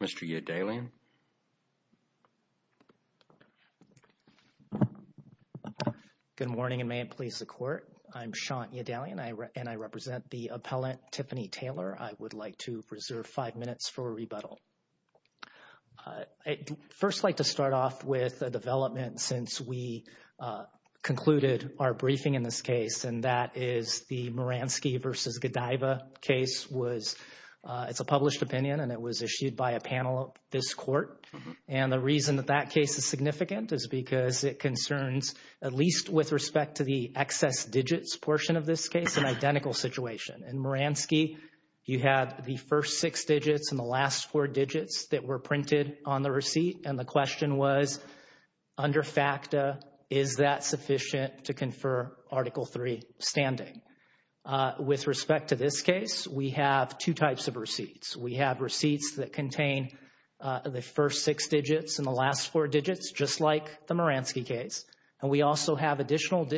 Mr. Good morning and may it please the court. I'm Sean and I represent the appellant Tiffany Taylor. I would like to preserve 5 minutes for rebuttal. I'd first like to start off with a development since we concluded our briefing in this case and that is the Moransky v. Godiva case was, it's a published opinion and it was issued by a panel of this court. And the reason that that case is significant is because it concerns, at least with respect to the excess digits portion of this case, an identical situation. In Moransky, you have the first six digits and the last four digits that were printed on the receipt and the question was, under FACTA, is that sufficient to confer Article III standing? With respect to this case, we have two types of receipts. We have receipts that contain the first six digits and the last four digits, just like the Moransky case. And we also have additional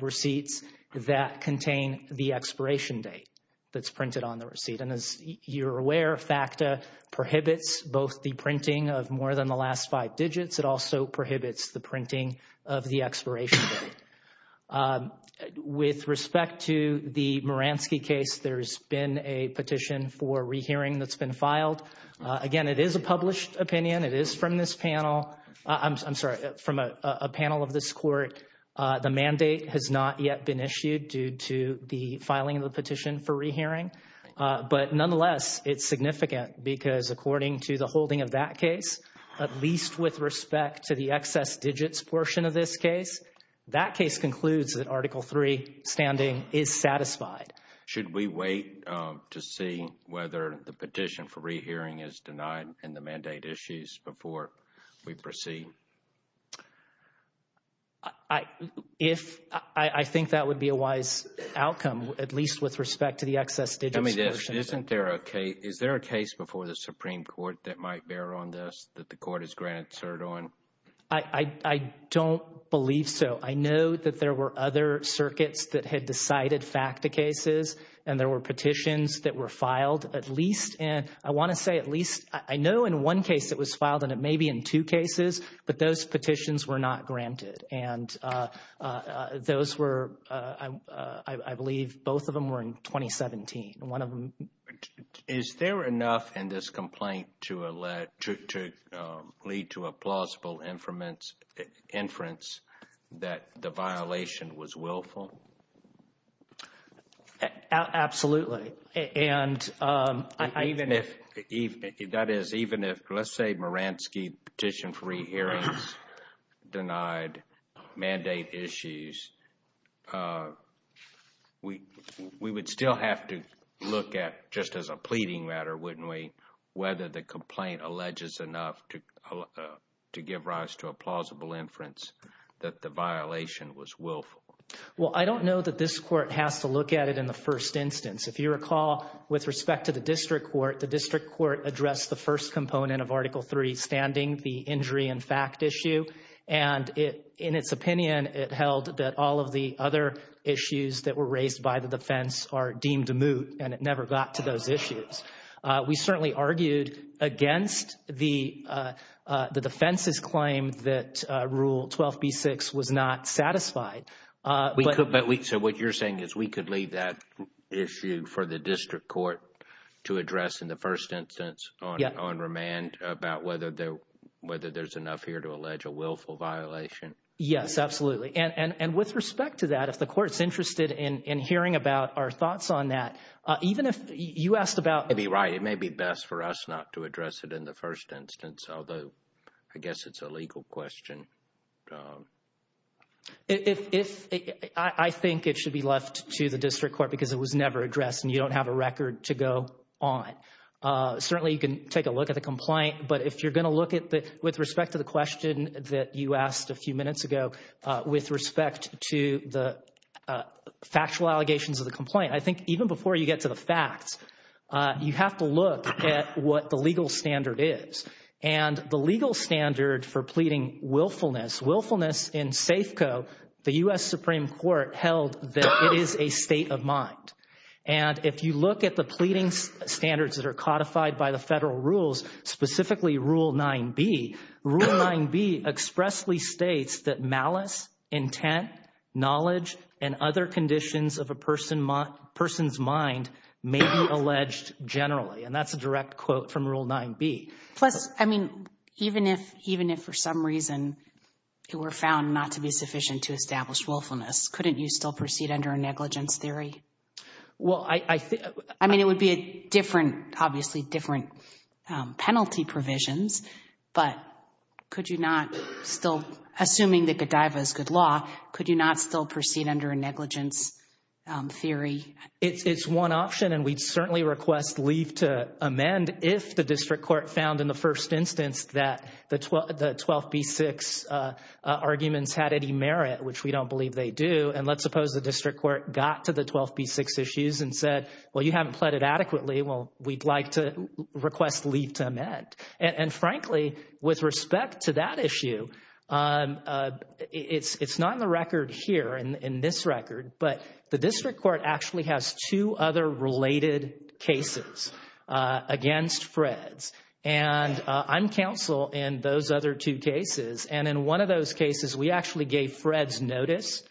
receipts that contain the expiration date that's printed on the receipt. And as you're aware, FACTA prohibits both the printing of more than the last five digits. It also prohibits the printing of the expiration date. With respect to the Moransky case, there's been a petition for rehearing that's been filed. Again, it is a published opinion. It is from this panel. I'm sorry, from a panel of this court. The mandate has not yet been issued due to the filing of the petition for rehearing. But nonetheless, it's significant because according to the holding of that case, at least with respect to the excess digits portion of this case, that case concludes that Article III standing is satisfied. Should we wait to see whether the petition for rehearing is denied in the mandate issues before we proceed? I think that would be a wise outcome, at least with respect to the excess digits portion. Is there a case before the Supreme Court that might bear on this that the court has granted cert on? I don't believe so. I know that there were other circuits that had decided FACTA cases and there were petitions that were filed. I want to say at least, I know in one case it was filed and it may be in two cases, but those petitions were not granted. Those were, I believe, both of them were in 2017. Is there enough in this complaint to lead to a plausible inference that the violation was willful? Absolutely. That is, even if, let's say Maransky petition for rehearings denied mandate issues, we would still have to look at, just as a pleading matter, wouldn't we, whether the complaint alleges enough to give rise to a plausible inference that the violation was willful? Well, I don't know that this court has to look at it in the first instance. If you recall, with respect to the district court, the district court addressed the first component of Article III standing, the injury and fact issue. And in its opinion, it held that all of the other issues that were raised by the defense are deemed moot and it never got to those issues. We certainly argued against the defense's claim that Rule 12b-6 was not satisfied. So what you're saying is we could leave that issue for the district court to address in the first instance on remand about whether there's enough here to allege a willful violation? Yes, absolutely. And with respect to that, if the court's interested in hearing about our thoughts on that, even if you asked about— You may be right. It may be best for us not to address it in the first instance, although I guess it's a legal question. I think it should be left to the district court because it was never addressed and you don't have a record to go on. Certainly you can take a look at the complaint, but if you're going to look at it with respect to the question that you asked a few minutes ago with respect to the factual allegations of the complaint, I think even before you get to the facts, you have to look at what the legal standard is. And the legal standard for pleading willfulness, willfulness in Safeco, the U.S. Supreme Court held that it is a state of mind. And if you look at the pleading standards that are codified by the federal rules, specifically Rule 9b, Rule 9b expressly states that malice, intent, knowledge, and other conditions of a person's mind may be alleged generally. And that's a direct quote from Rule 9b. Plus, I mean, even if for some reason it were found not to be sufficient to establish willfulness, couldn't you still proceed under a negligence theory? I mean, it would be a different, obviously different penalty provisions, but could you not still, assuming that Godiva is good law, could you not still proceed under a negligence theory? It's one option, and we'd certainly request leave to amend if the district court found in the first instance that the 12b-6 arguments had any merit, which we don't believe they do. And let's suppose the district court got to the 12b-6 issues and said, well, you haven't pleaded adequately. Well, we'd like to request leave to amend. And frankly, with respect to that issue, it's not in the record here, in this record, but the district court actually has two other related cases against Fred's. And I'm counsel in those other two cases. And in one of those cases, we actually gave Fred's notice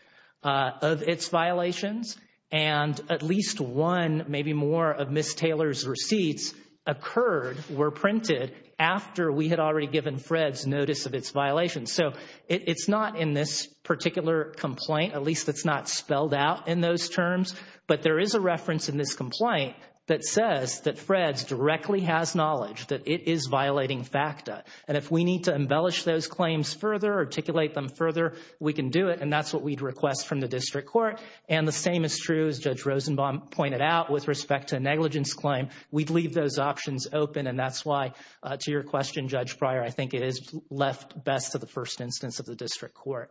of its violations, and at least one, maybe more, of Ms. Taylor's receipts occurred, were printed, after we had already given Fred's notice of its violations. So it's not in this particular complaint, at least it's not spelled out in those terms, but there is a reference in this complaint that says that Fred's directly has knowledge that it is violating FACTA. And if we need to embellish those claims further, articulate them further, we can do it, and that's what we'd request from the district court. And the same is true, as Judge Rosenbaum pointed out, with respect to a negligence claim, we'd leave those options open. And that's why, to your question, Judge Pryor, I think it is left best to the first instance of the district court.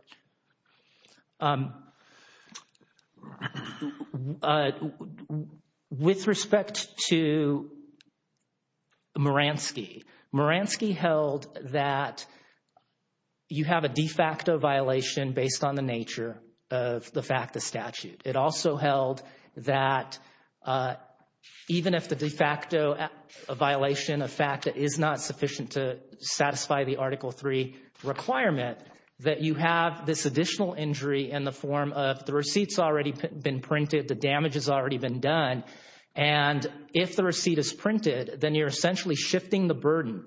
With respect to Maransky, Maransky held that you have a de facto violation based on the nature of the FACTA statute. It also held that even if the de facto violation of FACTA is not sufficient to satisfy the Article III requirement, that you have this additional injury in the form of the receipts already been printed, the damage has already been done, and if the receipt is printed, then you're essentially shifting the burden,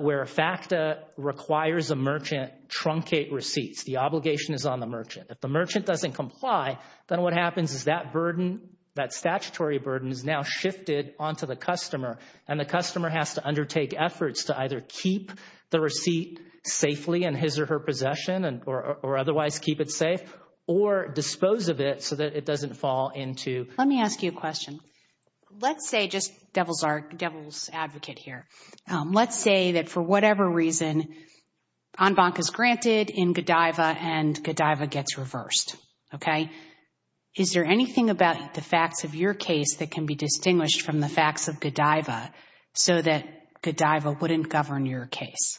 where FACTA requires a merchant truncate receipts. The obligation is on the merchant. If the merchant doesn't comply, then what happens is that burden, that statutory burden, is now shifted onto the customer, and the customer has to undertake efforts to either keep the receipt safely in his or her possession, or otherwise keep it safe, or dispose of it so that it doesn't fall into— Let me ask you a question. Let's say, just devil's advocate here, let's say that for whatever reason, en banc is granted in Godiva and Godiva gets reversed, okay? Is there anything about the facts of your case that can be distinguished from the facts of Godiva so that Godiva wouldn't govern your case?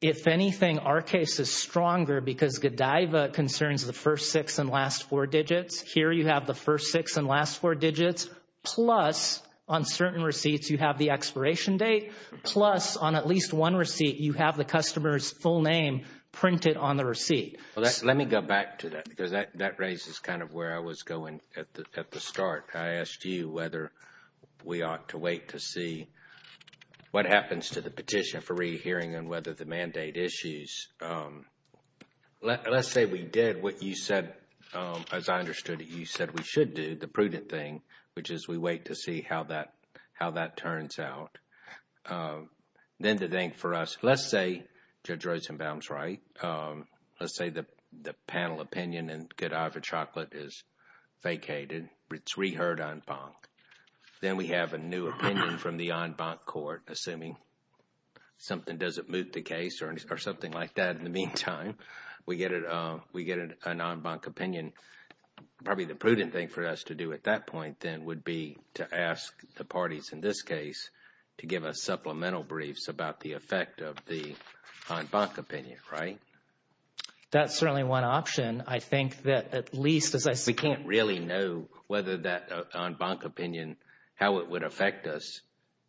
If anything, our case is stronger because Godiva concerns the first six and last four digits. Here you have the first six and last four digits, plus on certain receipts you have the expiration date, plus on at least one receipt you have the customer's full name printed on the receipt. Let me go back to that because that raises kind of where I was going at the start. I asked you whether we ought to wait to see what happens to the petition for rehearing and whether the mandate issues. Let's say we did what you said, as I understood it, you said we should do, the prudent thing, which is we wait to see how that turns out. Then the thing for us, let's say Judge Rosenbaum's right. Let's say the panel opinion in Godiva Chocolate is vacated. It's reheard en banc. Then we have a new opinion from the en banc court, assuming something doesn't moot the case or something like that. In the meantime, we get an en banc opinion. Probably the prudent thing for us to do at that point then would be to ask the parties in this case to give us supplemental briefs about the effect of the en banc opinion, right? That's certainly one option. I think that at least, as I said— We can't really know whether that en banc opinion, how it would affect us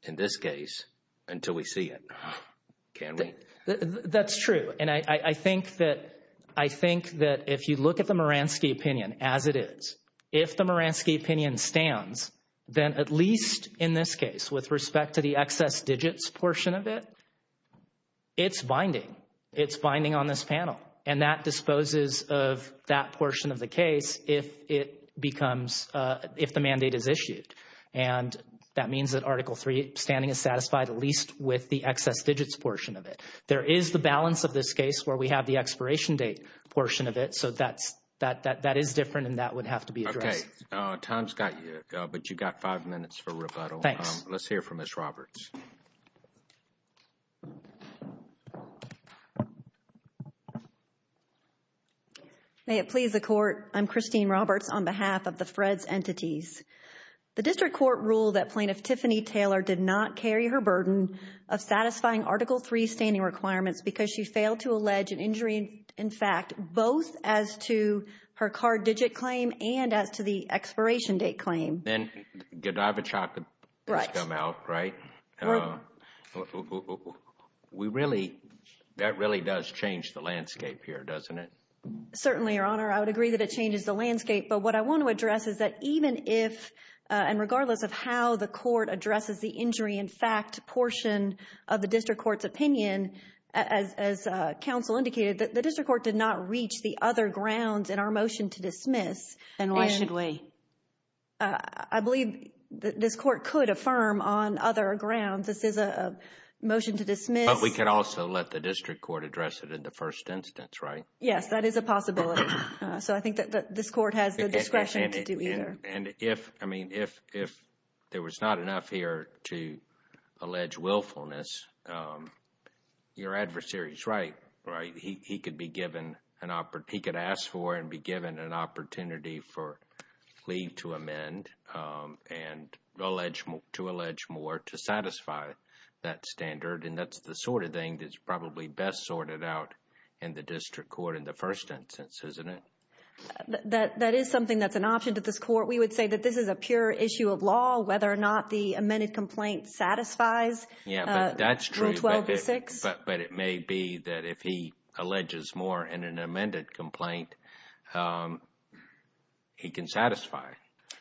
in this case until we see it, can we? That's true. I think that if you look at the Moransky opinion as it is, if the Moransky opinion stands, then at least in this case with respect to the excess digits portion of it, it's binding. It's binding on this panel. That disposes of that portion of the case if the mandate is issued. That means that Article III standing is satisfied at least with the excess digits portion of it. There is the balance of this case where we have the expiration date portion of it. That is different and that would have to be addressed. Okay. Tom's got you, but you've got five minutes for rebuttal. Thanks. Let's hear from Ms. Roberts. May it please the Court. I'm Christine Roberts on behalf of the Freds Entities. The District Court ruled that Plaintiff Tiffany Taylor did not carry her burden of satisfying Article III standing requirements because she failed to allege an injury, in fact, both as to her card digit claim and as to the expiration date claim. And Godavichock has come out, right? Right. That really does change the landscape here, doesn't it? Certainly, Your Honor. I would agree that it changes the landscape. But what I want to address is that even if and regardless of how the Court addresses the injury, in fact, portion of the District Court's opinion, as counsel indicated, the District Court did not reach the other grounds in our motion to dismiss. And why should we? I believe this Court could affirm on other grounds. This is a motion to dismiss. But we could also let the District Court address it in the first instance, right? Yes, that is a possibility. So I think that this Court has the discretion to do either. And if, I mean, if there was not enough here to allege willfulness, your adversary is right, right? That is something that's an option to this Court. We would say that this is a pure issue of law, whether or not the amended complaint satisfies Rule 12-6. Yes, that's true. But it may be that if he alleges more in an amended complaint, he can satisfy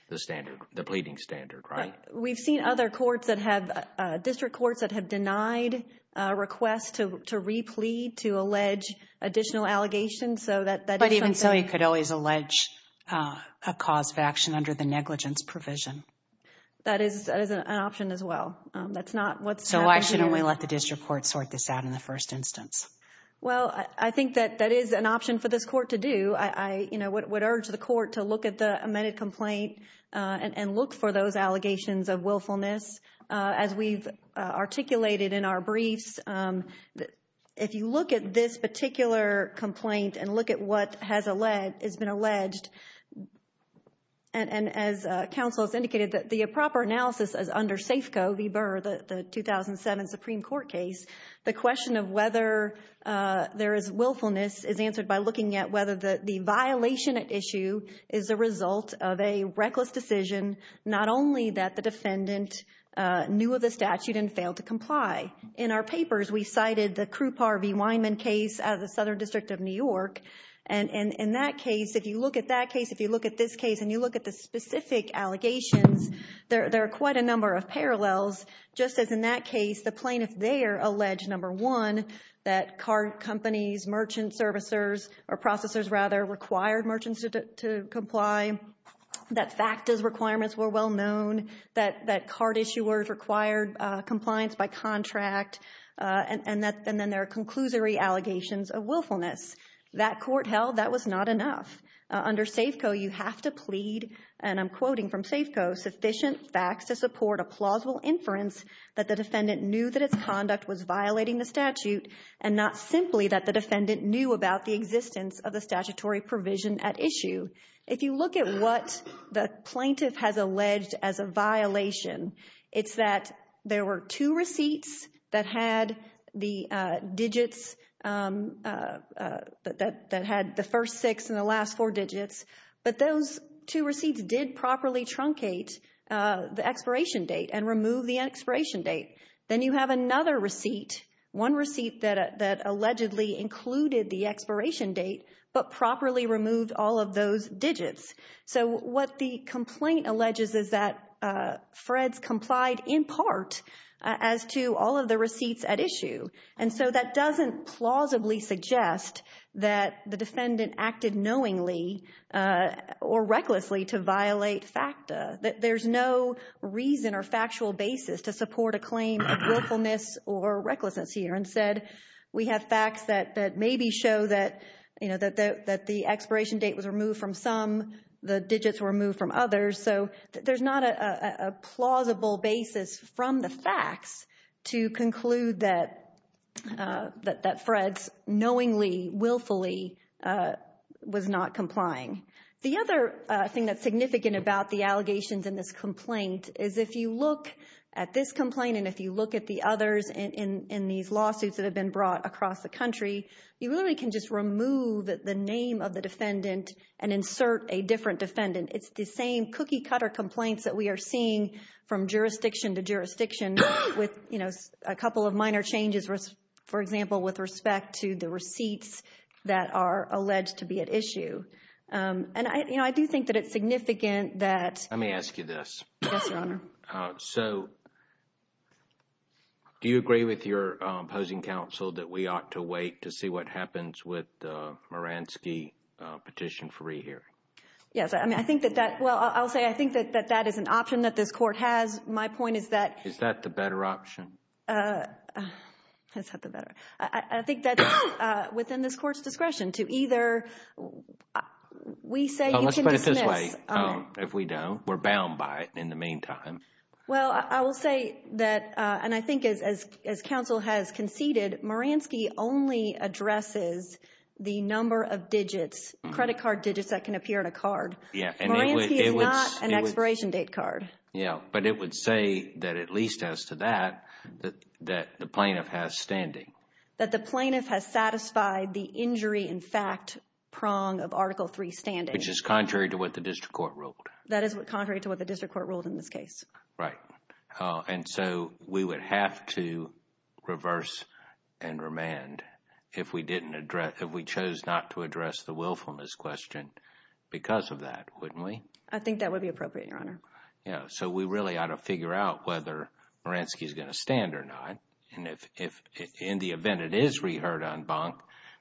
the standard, the pleading standard, right? We've seen other courts that have, District Courts that have denied requests to replete, to allege additional allegations. But even so, you could always allege a cause of action under the negligence provision. That is an option as well. So why shouldn't we let the District Court sort this out in the first instance? Well, I think that that is an option for this Court to do. I would urge the Court to look at the amended complaint and look for those allegations of willfulness. As we've articulated in our briefs, if you look at this particular complaint and look at what has been alleged, and as counsel has indicated that the proper analysis is under Safeco v. Burr, the 2007 Supreme Court case, the question of whether there is willfulness is answered by looking at whether the violation at issue is a result of a reckless decision, not only that the defendant knew of the statute and failed to comply. In our papers, we cited the Krupar v. Weinman case out of the Southern District of New York. And in that case, if you look at that case, if you look at this case, and you look at the specific allegations, there are quite a number of parallels. Just as in that case, the plaintiff there alleged, number one, that car companies, merchant servicers, or processors rather, required merchants to comply, that FACTA's requirements were well known, that card issuers required compliance by contract, and then there are conclusory allegations of willfulness. That Court held that was not enough. Under Safeco, you have to plead, and I'm quoting from Safeco, sufficient facts to support a plausible inference that the defendant knew that its conduct was violating the statute, and not simply that the defendant knew about the existence of the statutory provision at issue. If you look at what the plaintiff has alleged as a violation, it's that there were two receipts that had the digits, that had the first six and the last four digits, but those two receipts did properly truncate the expiration date and remove the expiration date. Then you have another receipt, one receipt that allegedly included the expiration date, but properly removed all of those digits. So what the complaint alleges is that Fred's complied in part as to all of the receipts at issue, and so that doesn't plausibly suggest that the defendant acted knowingly or recklessly to violate FACTA, that there's no reason or factual basis to support a claim of willfulness or recklessness here. Instead, we have facts that maybe show that, you know, that the expiration date was removed from some, the digits were removed from others. So there's not a plausible basis from the facts to conclude that Fred's knowingly, willfully was not complying. The other thing that's significant about the allegations in this complaint is if you look at this complaint and if you look at the others in these lawsuits that have been brought across the country, you really can just remove the name of the defendant and insert a different defendant. It's the same cookie-cutter complaints that we are seeing from jurisdiction to jurisdiction with, you know, And, you know, I do think that it's significant that. Let me ask you this. Yes, Your Honor. So do you agree with your opposing counsel that we ought to wait to see what happens with the Maransky petition free hearing? Yes, I mean, I think that that, well, I'll say I think that that is an option that this court has. My point is that. Is that the better option? Is that the better? I think that within this court's discretion to either. We say you can dismiss. Let's put it this way. If we don't, we're bound by it in the meantime. Well, I will say that, and I think as counsel has conceded, Maransky only addresses the number of digits, credit card digits that can appear in a card. Maransky is not an expiration date card. Yeah, but it would say that at least as to that, that the plaintiff has standing. That the plaintiff has satisfied the injury in fact prong of Article 3 standing. Which is contrary to what the district court ruled. That is contrary to what the district court ruled in this case. Right. And so we would have to reverse and remand if we didn't address, if we chose not to address the willfulness question because of that, wouldn't we? I think that would be appropriate, Your Honor. Yeah, so we really ought to figure out whether Maransky is going to stand or not. And if in the event it is reheard en banc,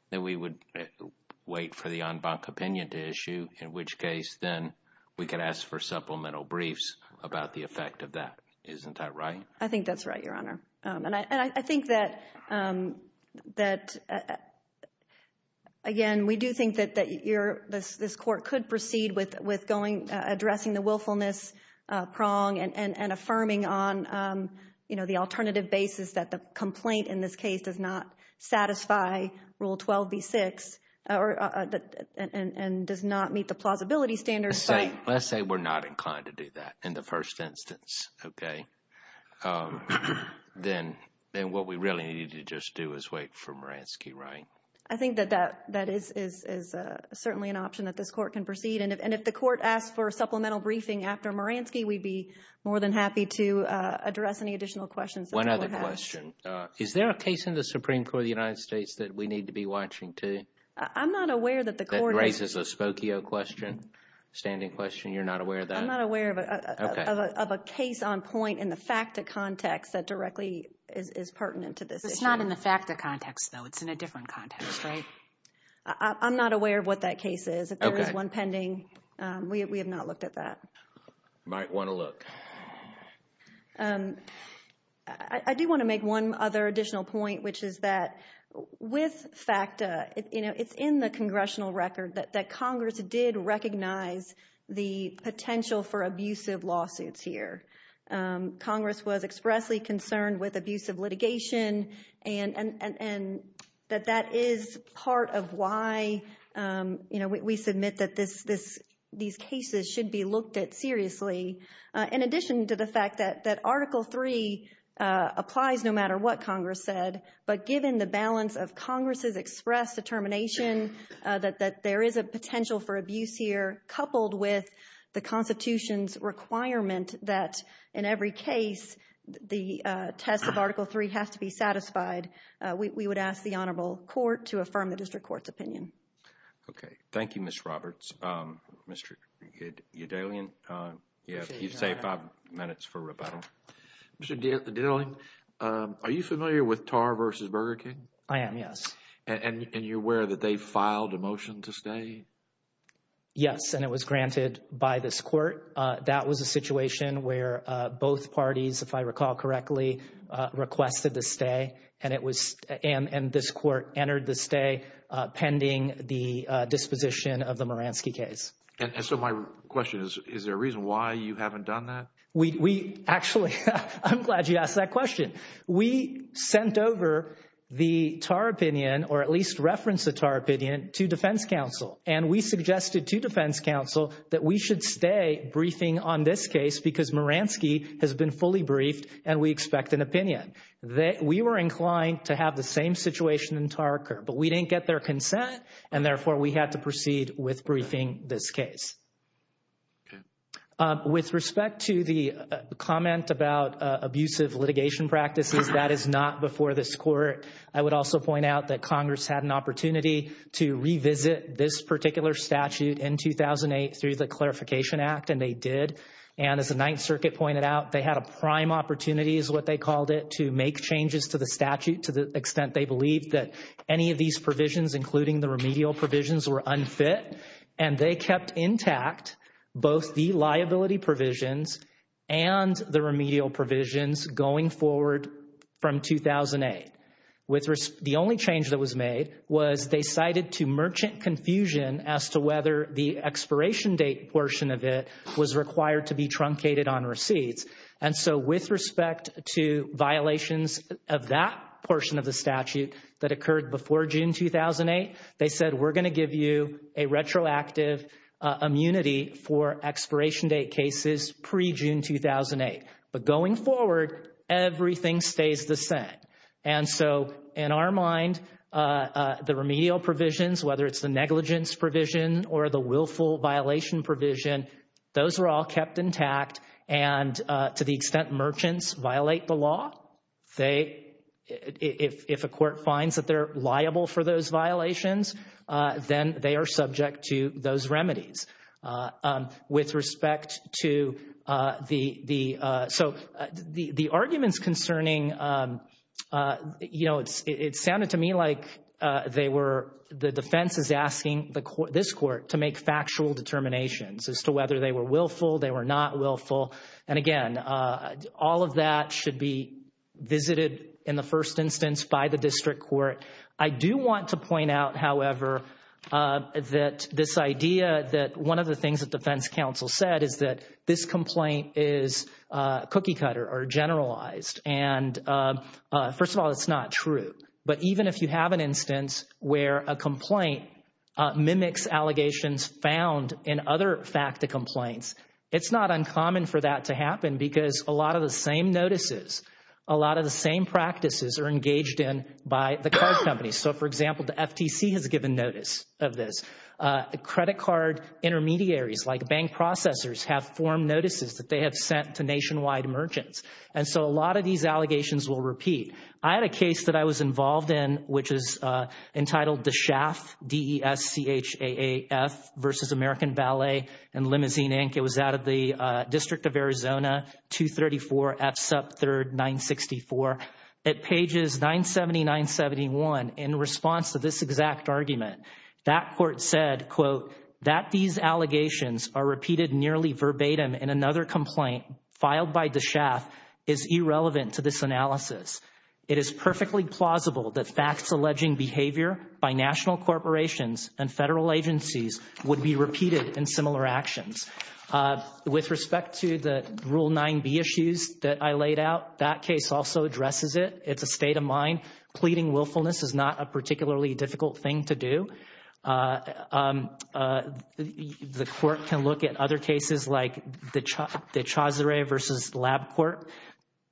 then we would wait for the en banc opinion to issue, in which case then we could ask for supplemental briefs about the effect of that. Isn't that right? I think that's right, Your Honor. And I think that, again, we do think that this court could proceed with addressing the willfulness prong and affirming on the alternative basis that the complaint in this case does not satisfy Rule 12b-6 and does not meet the plausibility standards. Let's say we're not inclined to do that in the first instance. Okay. Then what we really need to just do is wait for Maransky, right? I think that that is certainly an option that this court can proceed. And if the court asks for supplemental briefing after Maransky, we'd be more than happy to address any additional questions. One other question. Is there a case in the Supreme Court of the United States that we need to be watching, too? I'm not aware that the court is. That raises a Spokio question, standing question. You're not aware of that? I'm not aware of a case on point in the FACTA context that directly is pertinent to this issue. It's not in the FACTA context, though. It's in a different context, right? I'm not aware of what that case is. If there is one pending, we have not looked at that. You might want to look. I do want to make one other additional point, which is that with FACTA, you know, it's in the congressional record that Congress did recognize the potential for abusive lawsuits here. Congress was expressly concerned with abusive litigation, and that that is part of why, you know, we submit that these cases should be looked at seriously. In addition to the fact that Article III applies no matter what Congress said, but given the balance of Congress's express determination that there is a potential for abuse here, coupled with the Constitution's requirement that in every case the test of Article III has to be satisfied, we would ask the Honorable Court to affirm the district court's opinion. Okay. Thank you, Ms. Roberts. Mr. Udalian, you have five minutes for rebuttal. Mr. Dittling, are you familiar with Tarr v. Burger King? I am, yes. And you're aware that they filed a motion to stay? Yes, and it was granted by this court. That was a situation where both parties, if I recall correctly, requested to stay, and this court entered the stay pending the disposition of the Moransky case. And so my question is, is there a reason why you haven't done that? Actually, I'm glad you asked that question. We sent over the Tarr opinion, or at least referenced the Tarr opinion, to defense counsel, and we suggested to defense counsel that we should stay briefing on this case because Moransky has been fully briefed and we expect an opinion. We were inclined to have the same situation in Tarr court, but we didn't get their consent, and therefore we had to proceed with briefing this case. Okay. With respect to the comment about abusive litigation practices, that is not before this court. I would also point out that Congress had an opportunity to revisit this particular statute in 2008 through the Clarification Act, and they did. And as the Ninth Circuit pointed out, they had a prime opportunity, is what they called it, to make changes to the statute to the extent they believed that any of these provisions, including the remedial provisions, were unfit. And they kept intact both the liability provisions and the remedial provisions going forward from 2008. The only change that was made was they cited to merchant confusion as to whether the expiration date portion of it was required to be truncated on receipts. And so with respect to violations of that portion of the statute that occurred before June 2008, they said we're going to give you a retroactive immunity for expiration date cases pre-June 2008. But going forward, everything stays the same. And so in our mind, the remedial provisions, whether it's the negligence provision or the willful violation provision, those were all kept intact and to the extent merchants violate the law, if a court finds that they're liable for those violations, then they are subject to those remedies. So the arguments concerning, you know, it sounded to me like the defense is asking this court to make factual determinations as to whether they were willful, they were not willful. And again, all of that should be visited in the first instance by the district court. I do want to point out, however, that this idea that one of the things that defense counsel said is that this complaint is cookie cutter or generalized. And first of all, it's not true. But even if you have an instance where a complaint mimics allegations found in other FACTA complaints, it's not uncommon for that to happen because a lot of the same notices, a lot of the same practices are engaged in by the card companies. So, for example, the FTC has given notice of this. Credit card intermediaries like bank processors have formed notices that they have sent to nationwide merchants. And so a lot of these allegations will repeat. I had a case that I was involved in, which is entitled Deshaf, D-E-S-C-H-A-A-F, versus American Ballet and Limousine, Inc. It was out of the District of Arizona, 234 F. Supp. 3rd, 964. At pages 970, 971, in response to this exact argument, that court said, quote, that these allegations are repeated nearly verbatim in another complaint filed by Deshaf is irrelevant to this analysis. It is perfectly plausible that facts alleging behavior by national corporations and federal agencies would be repeated in similar actions. With respect to the Rule 9b issues that I laid out, that case also addresses it. It's a state of mind. Pleading willfulness is not a particularly difficult thing to do. The court can look at other cases like the Chaucer versus Lab Court,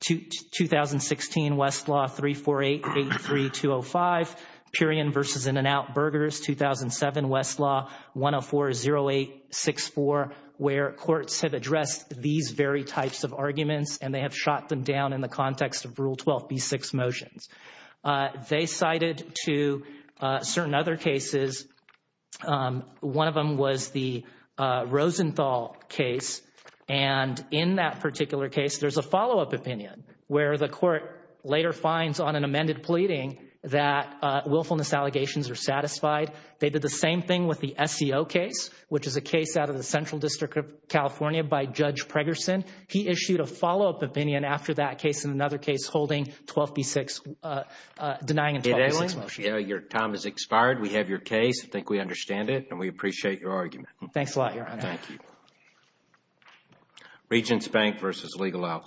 2016 Westlaw 348-83-205, Perion versus In-N-Out Burgers, 2007 Westlaw 104-08-64, where courts have addressed these very types of arguments, and they have shot them down in the context of Rule 12b-6 motions. They cited to certain other cases. One of them was the Rosenthal case, and in that particular case, there's a follow-up opinion where the court later finds on an amended pleading that willfulness allegations are satisfied. They did the same thing with the SEO case, which is a case out of the Central District of California by Judge Pregerson. He issued a follow-up opinion after that case and another case holding 12b-6, denying a 12b-6 motion. Your time has expired. We have your case. I think we understand it, and we appreciate your argument. Thanks a lot, Your Honor. Thank you.